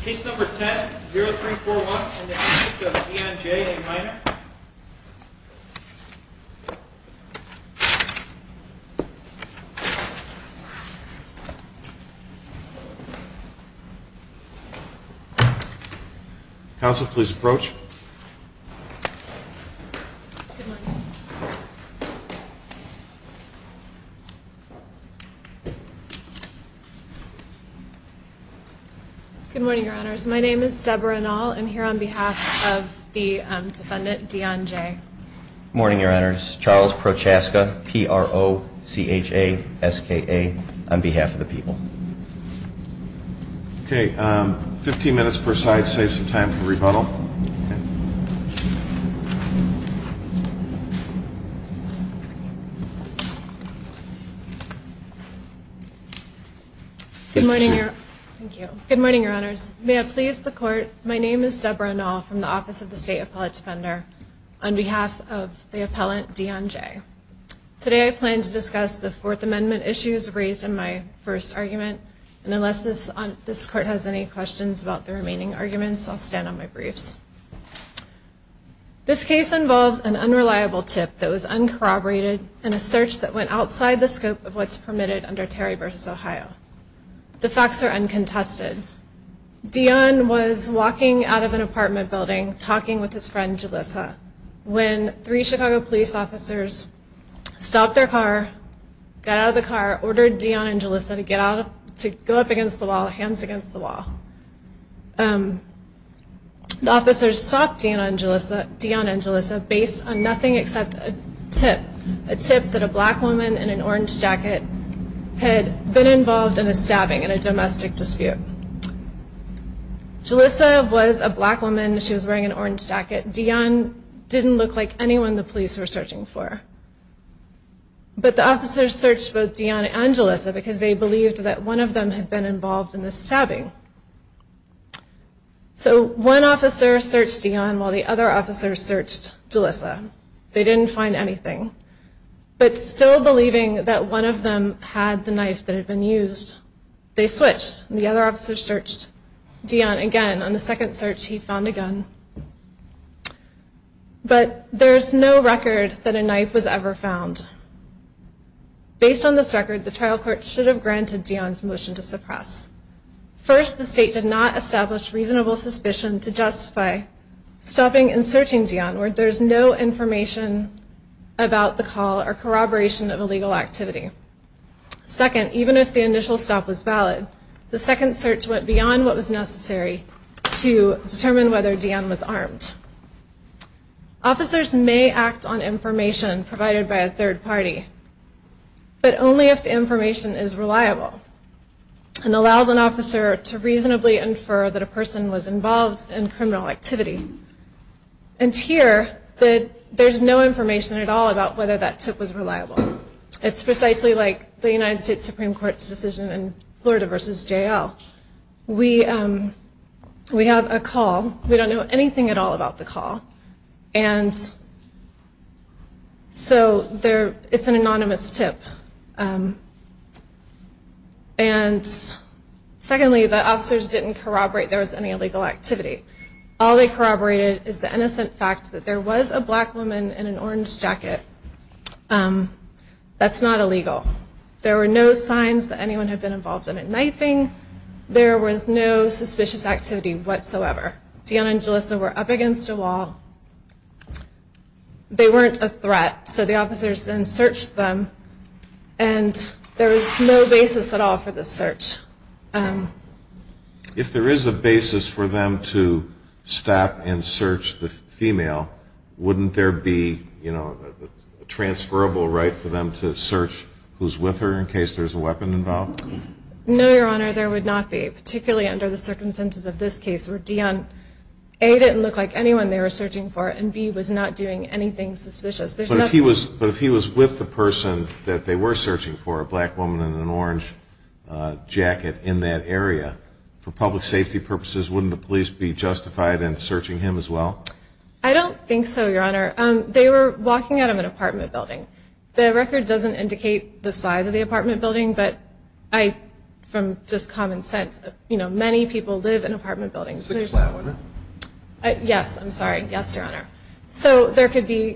Case number 10-0341, Deon J., a minor. Counsel, please approach. Good morning, Your Honors. My name is Deborah Nall. I'm here on behalf of the defendant, Deon J. Good morning, Your Honors. Charles Prochaska, P-R-O-C-H-A-S-K-A, on behalf of the people. Okay. Fifteen minutes per side saves some time for rebuttal. Good morning, Your Honors. May I please the court? My name is Deborah Nall from the Office of the State Appellate Defender, on behalf of the appellant, Deon J. Today I plan to discuss the Fourth Amendment issues raised in my first argument, and unless this court has any questions about the remaining arguments, I'll stand on my briefs. This case involves an unreliable tip that was uncorroborated and a search that went outside the scope of what's permitted under Terry v. Ohio. The facts are uncontested. Deon was walking out of an apartment building, talking with his friend, Julissa, when three Chicago police officers stopped their car, got out of the car, ordered Deon and Julissa to go up against the wall, hands against the wall. The officers stopped Deon and Julissa based on nothing except a tip, a tip that a black woman in an orange jacket had been involved in a stabbing in a domestic dispute. Julissa was a black woman. She was wearing an orange jacket. Deon didn't look like anyone the police were searching for. But the officers searched both Deon and Julissa because they believed that one of them had been involved in the stabbing. So one officer searched Deon while the other officers searched Julissa. They didn't find anything. But still believing that one of them had the knife that had been used, they switched and the other officers searched Deon again. On the second search, he found a gun. But there's no record that a knife was ever found. Based on this record, the trial court should have granted Deon's motion to suppress. First, the state did not establish reasonable suspicion to justify stopping and searching Deon where there's no information about the call or corroboration of illegal activity. Second, even if the initial stop was valid, the second search went beyond what was necessary to determine whether Deon was armed. Officers may act on information provided by a third party, but only if the information is reliable and allows an officer to reasonably infer that a person was involved in criminal activity. And here, there's no information at all about whether that tip was reliable. It's precisely like the United States Supreme Court's decision in Florida v. J.L. We have a call. We don't know anything at all about the call. And so it's an anonymous tip. And secondly, the officers didn't corroborate there was any illegal activity. All they corroborated is the innocent fact that there was a black woman in an orange jacket. That's not illegal. There were no signs that anyone had been involved in a knifing. There was no suspicious activity whatsoever. Deon and Jalissa were up against a wall. They weren't a threat. So the officers then searched them. And there was no basis at all for the search. If there is a basis for them to stop and search the female, wouldn't there be a transferable right for them to search who's with her in case there's a weapon involved? No, Your Honor, there would not be, particularly under the circumstances of this case, where Deon, A, didn't look like anyone they were searching for, and B, was not doing anything suspicious. But if he was with the person that they were searching for, a black woman in an orange jacket in that area, for public safety purposes, wouldn't the police be justified in searching him as well? I don't think so, Your Honor. They were walking out of an apartment building. The record doesn't indicate the size of the apartment building, but from just common sense, many people live in apartment buildings. So there could be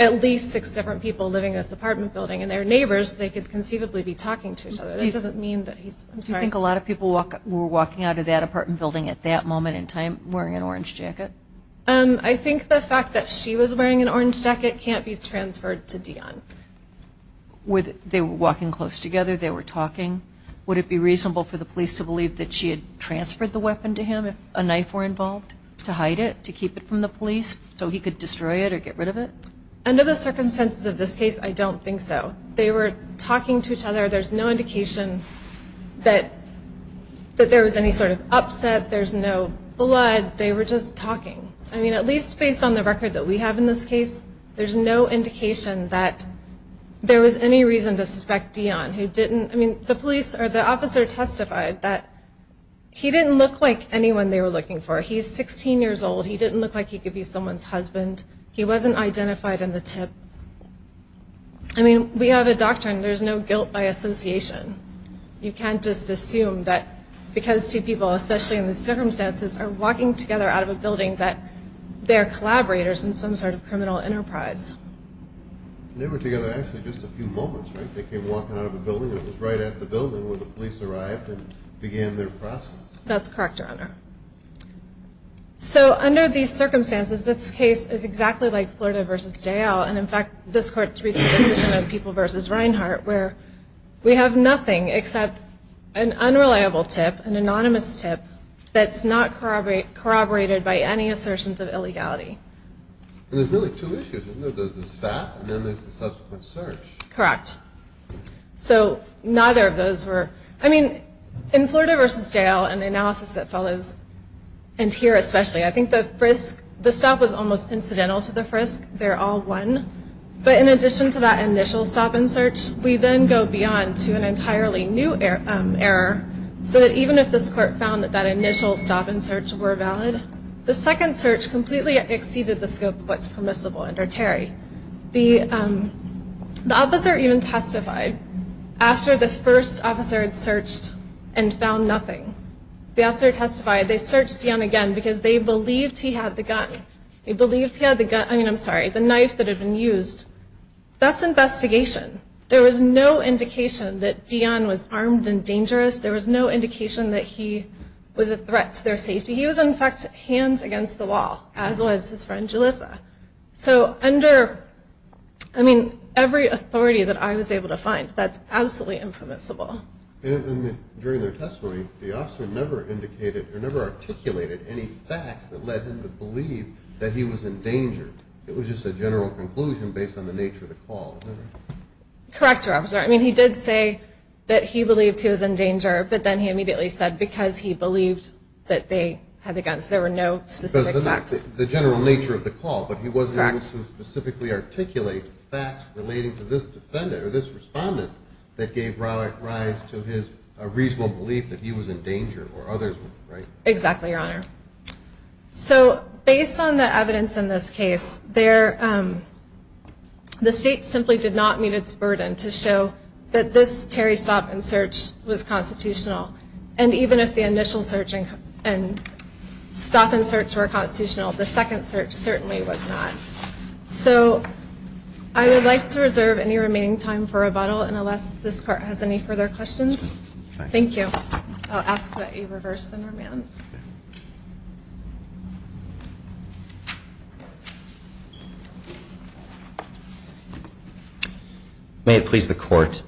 at least six different people living in this apartment building, and their neighbors, they could conceivably be talking to each other. Do you think a lot of people were walking out of that apartment building at that moment in time wearing an orange jacket? I think the fact that she was wearing an orange jacket can't be transferred to Deon. They were walking close together, they were talking. Would it be reasonable for the police to believe that she had transferred the weapon to him if a knife were involved, to hide it, to keep it from the police so he could destroy it or get rid of it? Under the circumstances of this case, I don't think so. They were talking to each other. There's no indication that there was any sort of upset. There's no blood. They were just talking. At least based on the record that we have in this case, there's no indication that there was any reason to suspect Deon. The officer testified that he didn't look like anyone they were looking for. He's 16 years old. He didn't look like he could be someone's husband. He wasn't identified in the tip. We have a doctrine, there's no guilt by association. You can't just assume that because two people, especially in these circumstances, are walking together out of a building that they're collaborators in some sort of criminal enterprise. They were together actually just a few moments, right? They came walking out of a building that was right at the building where the police arrived and began their process. That's correct, Your Honor. So under these circumstances, this case is exactly like Florida v. J.L., and in fact, this Court's recent decision of People v. Reinhart, where we have nothing except an unreliable tip, an anonymous tip, that's not corroborated by any assertions of illegality. And there's really two issues, isn't there? There's the stop and then there's the subsequent search. Correct. So neither of those were, I mean, in Florida v. J.L. and the analysis that follows, and here especially, I think the stop was almost incidental to the frisk. They're all one. But in addition to that initial stop and search, we then go beyond to an entirely new error, so that even if this Court found that that initial stop and search were valid, the second search completely exceeded the scope of what's permissible under Terry. The officer even testified after the first officer had searched and found nothing. The officer testified they searched Dion again because they believed he had the gun. They believed he had the gun, I mean, I'm sorry, the knife that had been used. That's investigation. There was no indication that Dion was armed and dangerous. There was no indication that he was a threat to their safety. He was, in fact, hands against the wall, as was his friend Julissa. So under, I mean, every authority that I was able to find, that's absolutely impermissible. During their testimony, the officer never indicated or never articulated any facts that led him to believe that he was in danger. It was just a general conclusion based on the nature of the call. Correct, Your Honor. I'm sorry. I mean, he did say that he believed he was in danger, but then he immediately said because he believed that they had the guns. There were no specific facts. The general nature of the call, but he wasn't able to specifically articulate facts relating to this defendant or this respondent that gave rise to his reasonable belief that he was in danger or others, right? Exactly, Your Honor. So based on the evidence in this case, the state simply did not meet its burden to show that this Terry stop and search was constitutional, and even if the initial stop and search were constitutional, the second search certainly was not. So I would like to reserve any remaining time for rebuttal, and unless this Court has any further questions, thank you. I'll ask that you reverse the normand. May it please the Court.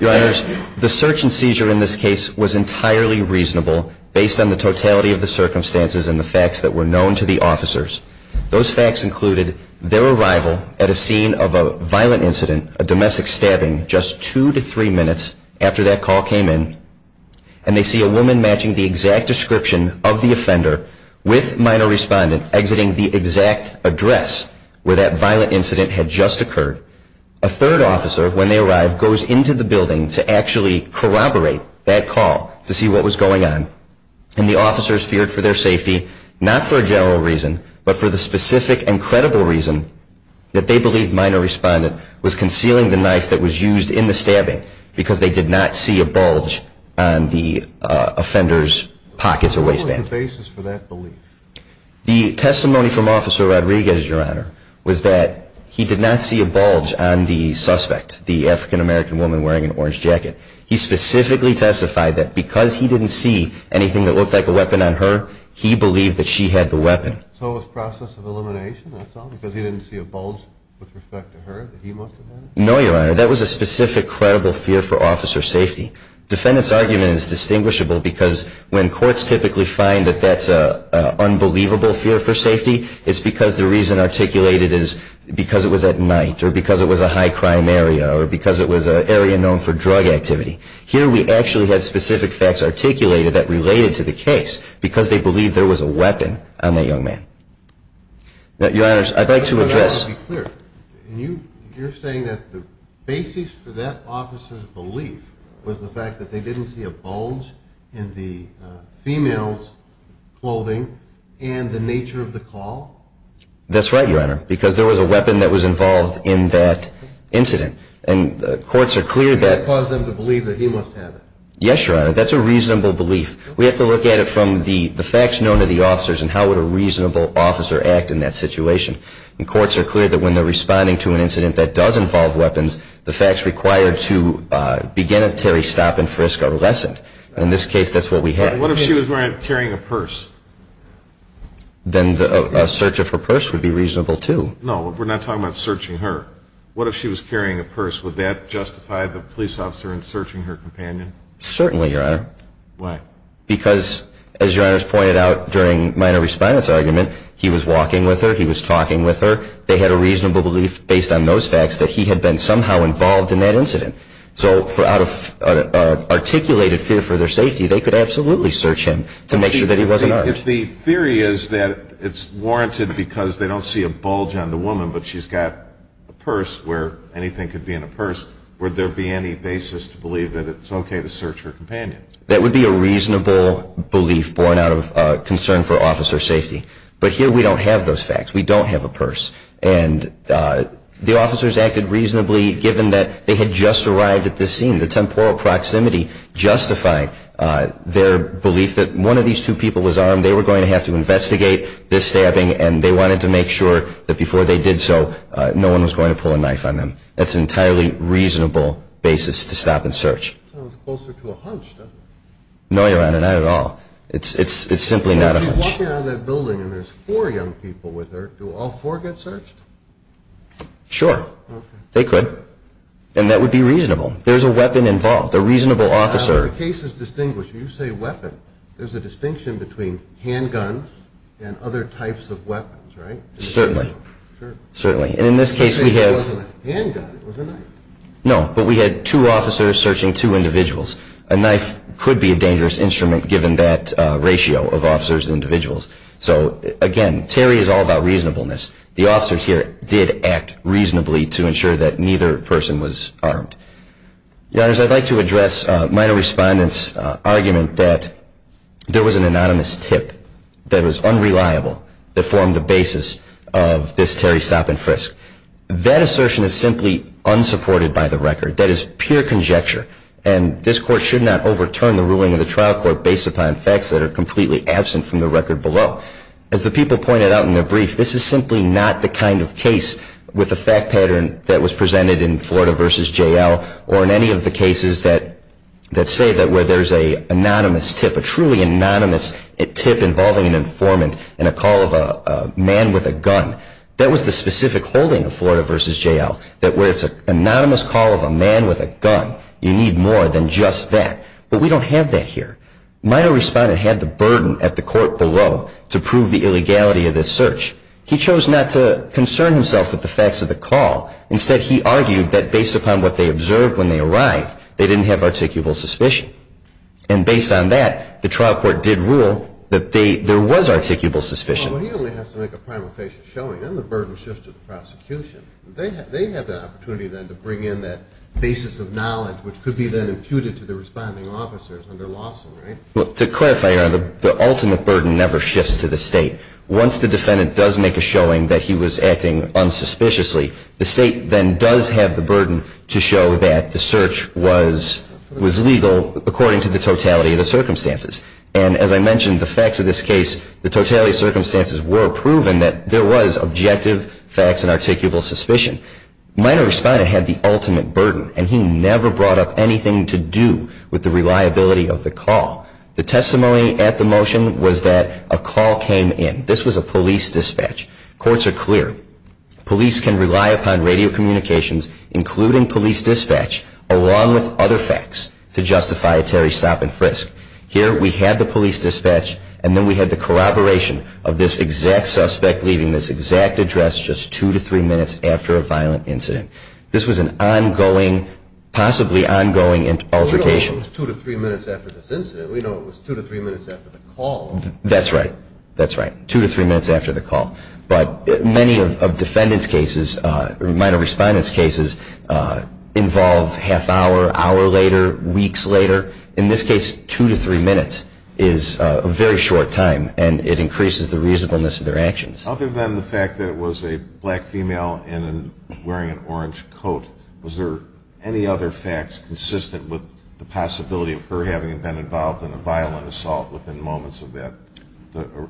Your Honors, the search and seizure in this case was entirely reasonable based on the totality of the circumstances and the facts that were known to the officers. Those facts included their arrival at a scene of a violent incident, a domestic stabbing just two to three minutes after that call came in, and they see a woman matching the exact description of the offender with a minor respondent exiting the exact address where that violent incident had just occurred. A third officer, when they arrive, goes into the building to actually corroborate that call to see what was going on, and the officers feared for their safety, not for a general reason, but for the specific and credible reason that they believed minor respondent was concealing the knife that was used in the stabbing because they did not see a bulge on the offender's pockets or waistband. What was the basis for that belief? The testimony from Officer Rodriguez, Your Honor, was that he did not see a bulge on the suspect, the African-American woman wearing an orange jacket. He specifically testified that because he didn't see anything that looked like a weapon on her, he believed that she had the weapon. So it was process of elimination, that's all, because he didn't see a bulge with respect to her that he must have had? No, Your Honor, that was a specific, credible fear for officer safety. Defendant's argument is distinguishable because when courts typically find that that's an unbelievable fear for safety, it's because the reason articulated is because it was at night or because it was a high crime area or because it was an area known for drug activity. Here we actually had specific facts articulated that related to the case because they believed there was a weapon on that young man. Your Honor, I'd like to address... You're saying that the basis for that officer's belief was the fact that they didn't see a bulge in the female's clothing and the nature of the call? That's right, Your Honor, because there was a weapon that was involved in that incident. And courts are clear that... And that caused them to believe that he must have it? Yes, Your Honor, that's a reasonable belief. We have to look at it from the facts known to the officers and how would a reasonable officer act in that situation. And courts are clear that when they're responding to an incident that does involve weapons, the facts required to begin a Terry stop and frisk are lessened. In this case, that's what we had. What if she was carrying a purse? Then a search of her purse would be reasonable, too. No, we're not talking about searching her. What if she was carrying a purse? Would that justify the police officer searching her companion? Certainly, Your Honor. Why? Because, as Your Honor's pointed out during minor response argument, he was walking with her, he was talking with her, they had a reasonable belief based on those facts that he had been somehow involved in that incident. So out of articulated fear for their safety, they could absolutely search him to make sure that he wasn't armed. If the theory is that it's warranted because they don't see a bulge on the woman, but she's got a purse where anything could be in a purse, would there be any basis to believe that it's okay to search her companion? That would be a reasonable belief born out of concern for officer safety. But here we don't have those facts. We don't have a purse. And the officers acted reasonably given that they had just arrived at this scene. The temporal proximity justified their belief that one of these two people was armed. They were going to have to investigate this stabbing, and they wanted to make sure that before they did so, no one was going to pull a knife on them. That's an entirely reasonable basis to stop and search. It sounds closer to a hunch, doesn't it? No, Your Honor, not at all. It's simply not a hunch. If she's walking out of that building and there's four young people with her, do all four get searched? Sure, they could. And that would be reasonable. There's a weapon involved, a reasonable officer. If the case is distinguished, when you say weapon, there's a distinction between handguns and other types of weapons, right? Certainly. In this case it wasn't a handgun, it was a knife. No, but we had two officers searching two individuals. A knife could be a dangerous instrument given that ratio of officers to individuals. So again, Terry is all about reasonableness. The officers here did act reasonably to ensure that neither person was armed. Your Honors, I'd like to address a minor respondent's argument that there was an anonymous tip that was unreliable that formed the basis of this Terry stop and frisk. That assertion is simply unsupported by the record. That is pure conjecture. And this Court should not overturn the ruling of the trial court based upon facts that are completely absent from the record below. As the people pointed out in their brief, this is simply not the kind of case with a fact pattern that was presented in Florida v. J.L. or in any of the cases that say that where there's an anonymous tip, a truly anonymous tip involving an informant and a call of a man with a gun, that was the specific holding of Florida v. J.L. that where it's an anonymous call of a man with a gun, you need more than just that. But we don't have that here. Minor respondent had the burden at the court below to prove the illegality of this search. He chose not to concern himself with the facts of the call. Instead, he argued that based upon what they observed when they arrived, they didn't have articulable suspicion. And based on that, the trial court did rule that there was articulable suspicion. Well, he only has to make a prime location showing, then the burden shifts to the prosecution. They have that opportunity then to bring in that basis of knowledge, which could be then imputed to the responding officers under Lawson, right? Well, to clarify, Your Honor, the ultimate burden never shifts to the State. Once the defendant does make a showing that he was acting unsuspiciously, the State then does have the burden to show that the search was legal according to the totality of the circumstances. And as I mentioned, the facts of this case, the totality of circumstances were proven that there was objective facts and articulable suspicion. Minor respondent had the ultimate burden, and he never brought up anything to do with the reliability of the call. The testimony at the motion was that a call came in. This was a police dispatch. Courts are clear. Police can rely upon radio communications, including police dispatch, along with other facts to justify a Terry stop-and-frisk. Here we had the police dispatch, and then we had the corroboration of this exact suspect leaving this exact address just two to three minutes after a violent incident. This was an ongoing, possibly ongoing altercation. We know it was two to three minutes after this incident. We know it was two to three minutes after the call. That's right. That's right, two to three minutes after the call. But many of defendant's cases, minor respondent's cases, involve half hour, hour later, weeks later. In this case, two to three minutes is a very short time, and it increases the reasonableness of their actions. Other than the fact that it was a black female wearing an orange coat, was there any other facts consistent with the possibility of her having been involved in a violent assault within moments of the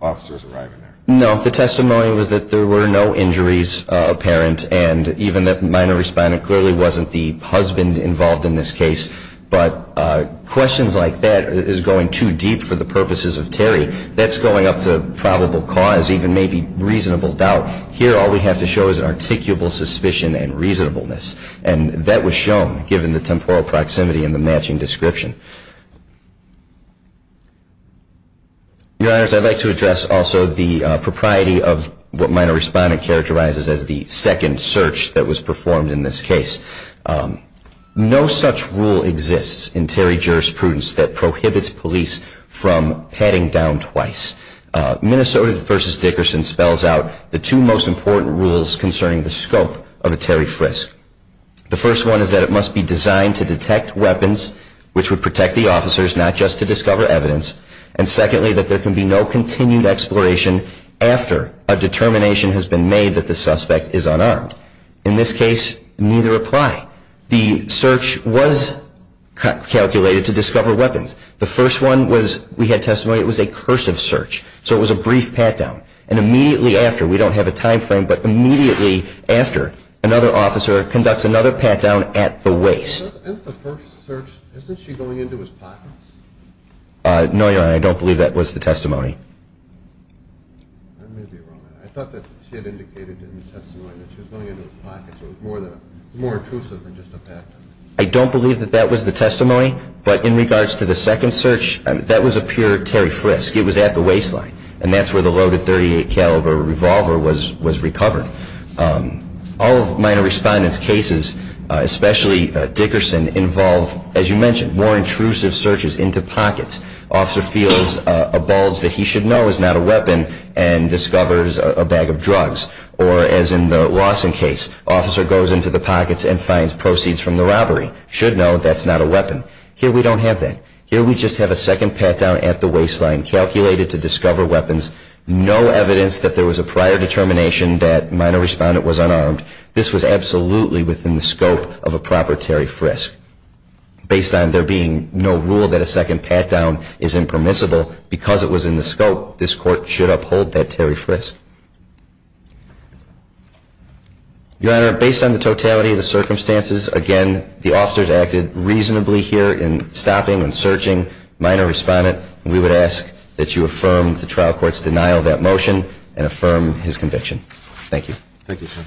officers arriving there? No, the testimony was that there were no injuries apparent, and even that minor respondent clearly wasn't the husband involved in this case. But questions like that is going too deep for the purposes of Terry. That's going up to probable cause, even maybe reasonable doubt. Here, all we have to show is an articulable suspicion and reasonableness, and that was shown given the temporal proximity and the matching description. Your Honors, I'd like to address also the propriety of what minor respondent characterizes as the second search that was performed in this case. No such rule exists in Terry jurisprudence that prohibits police from patting down twice. Minnesota v. Dickerson spells out the two most important rules concerning the scope of a Terry frisk. The first one is that it must be designed to detect weapons which would protect the officers, not just to discover evidence, and secondly, that there can be no continued exploration after a determination has been made that the suspect is unarmed. In this case, neither apply. The search was calculated to discover weapons. The first one was we had testimony it was a cursive search, so it was a brief pat-down. And immediately after, we don't have a time frame, but immediately after, another officer conducts another pat-down at the waist. Isn't the first search, isn't she going into his pockets? No, Your Honor, I don't believe that was the testimony. I may be wrong. I thought that she had indicated in the testimony that she was going into his pockets. It was more intrusive than just a pat-down. I don't believe that that was the testimony, but in regards to the second search, that was a pure Terry frisk. It was at the waistline, and that's where the loaded .38 caliber revolver was recovered. All of minor respondent's cases, especially Dickerson, involve, as you mentioned, more intrusive searches into pockets. Officer feels a bulge that he should know is not a weapon and discovers a bag of drugs. Or as in the Lawson case, officer goes into the pockets and finds proceeds from the robbery. Should know that's not a weapon. Here we don't have that. Here we just have a second pat-down at the waistline calculated to discover weapons. No evidence that there was a prior determination that minor respondent was unarmed. This was absolutely within the scope of a proper Terry frisk. Based on there being no rule that a second pat-down is impermissible, because it was in the scope, this court should uphold that Terry frisk. Your Honor, based on the totality of the circumstances, again, the officers acted reasonably here in stopping and searching minor respondent, and we would ask that you affirm the trial court's denial of that motion and affirm his conviction. Thank you. Thank you, sir.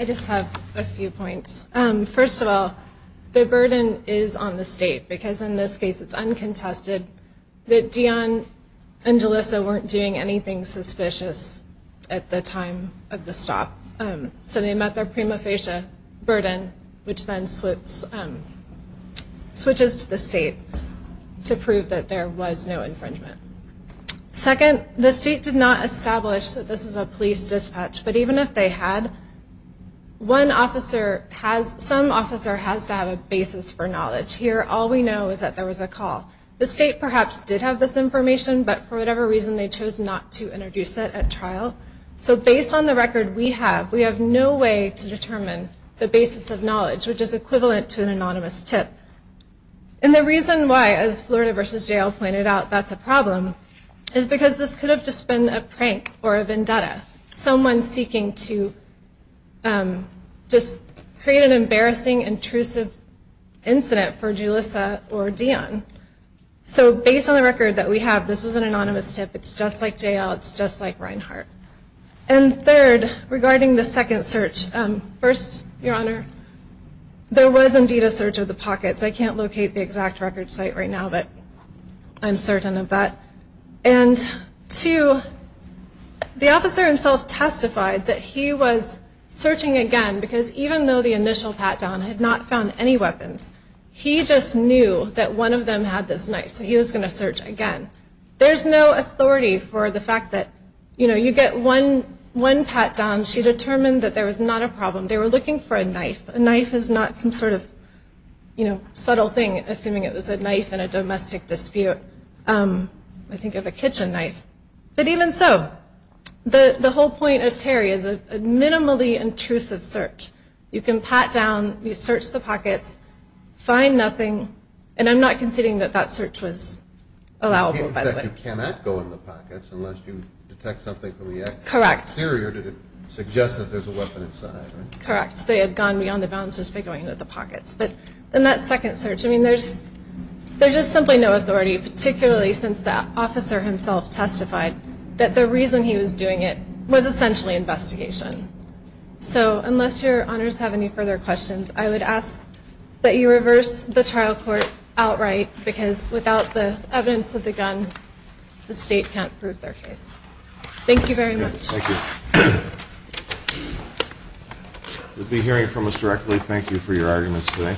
I just have a few points. First of all, the burden is on the state, because in this case it's uncontested that Dion and Jalissa weren't doing anything suspicious at the time of the stop. So they met their prima facie burden, which then switches to the state to prove that there was no infringement. Second, the state did not establish that this is a police dispatch, but even if they had, some officer has to have a basis for knowledge. Here all we know is that there was a call. The state perhaps did have this information, but for whatever reason they chose not to introduce it at trial. So based on the record we have, we have no way to determine the basis of knowledge, which is equivalent to an anonymous tip. And the reason why, as Florida v. Jal pointed out, that's a problem, is because this could have just been a prank or a vendetta, someone seeking to just create an embarrassing, intrusive incident for Jalissa or Dion. So based on the record that we have, this was an anonymous tip. It's just like Jal, it's just like Reinhart. And third, regarding the second search, first, Your Honor, there was indeed a search of the pockets. I can't locate the exact record site right now, but I'm certain of that. And two, the officer himself testified that he was searching again, because even though the initial pat-down had not found any weapons, he just knew that one of them had this knife, so he was going to search again. There's no authority for the fact that, you know, you get one pat-down, she determined that there was not a problem. They were looking for a knife. A knife is not some sort of, you know, subtle thing, assuming it was a knife in a domestic dispute. I think of a kitchen knife. But even so, the whole point of Terry is a minimally intrusive search. You can pat down, you search the pockets, find nothing, and I'm not conceding that that search was allowable, by the way. In fact, you cannot go in the pockets unless you detect something from the exterior to suggest that there's a weapon inside, right? Correct. They had gone beyond the bounds just by going into the pockets. But in that second search, I mean, there's just simply no authority, particularly since the officer himself testified that the reason he was doing it was essentially investigation. So unless Your Honors have any further questions, I would ask that you reverse the trial court outright because without the evidence of the gun, the state can't prove their case. Thank you very much. Thank you. You'll be hearing from us directly. Thank you for your arguments today.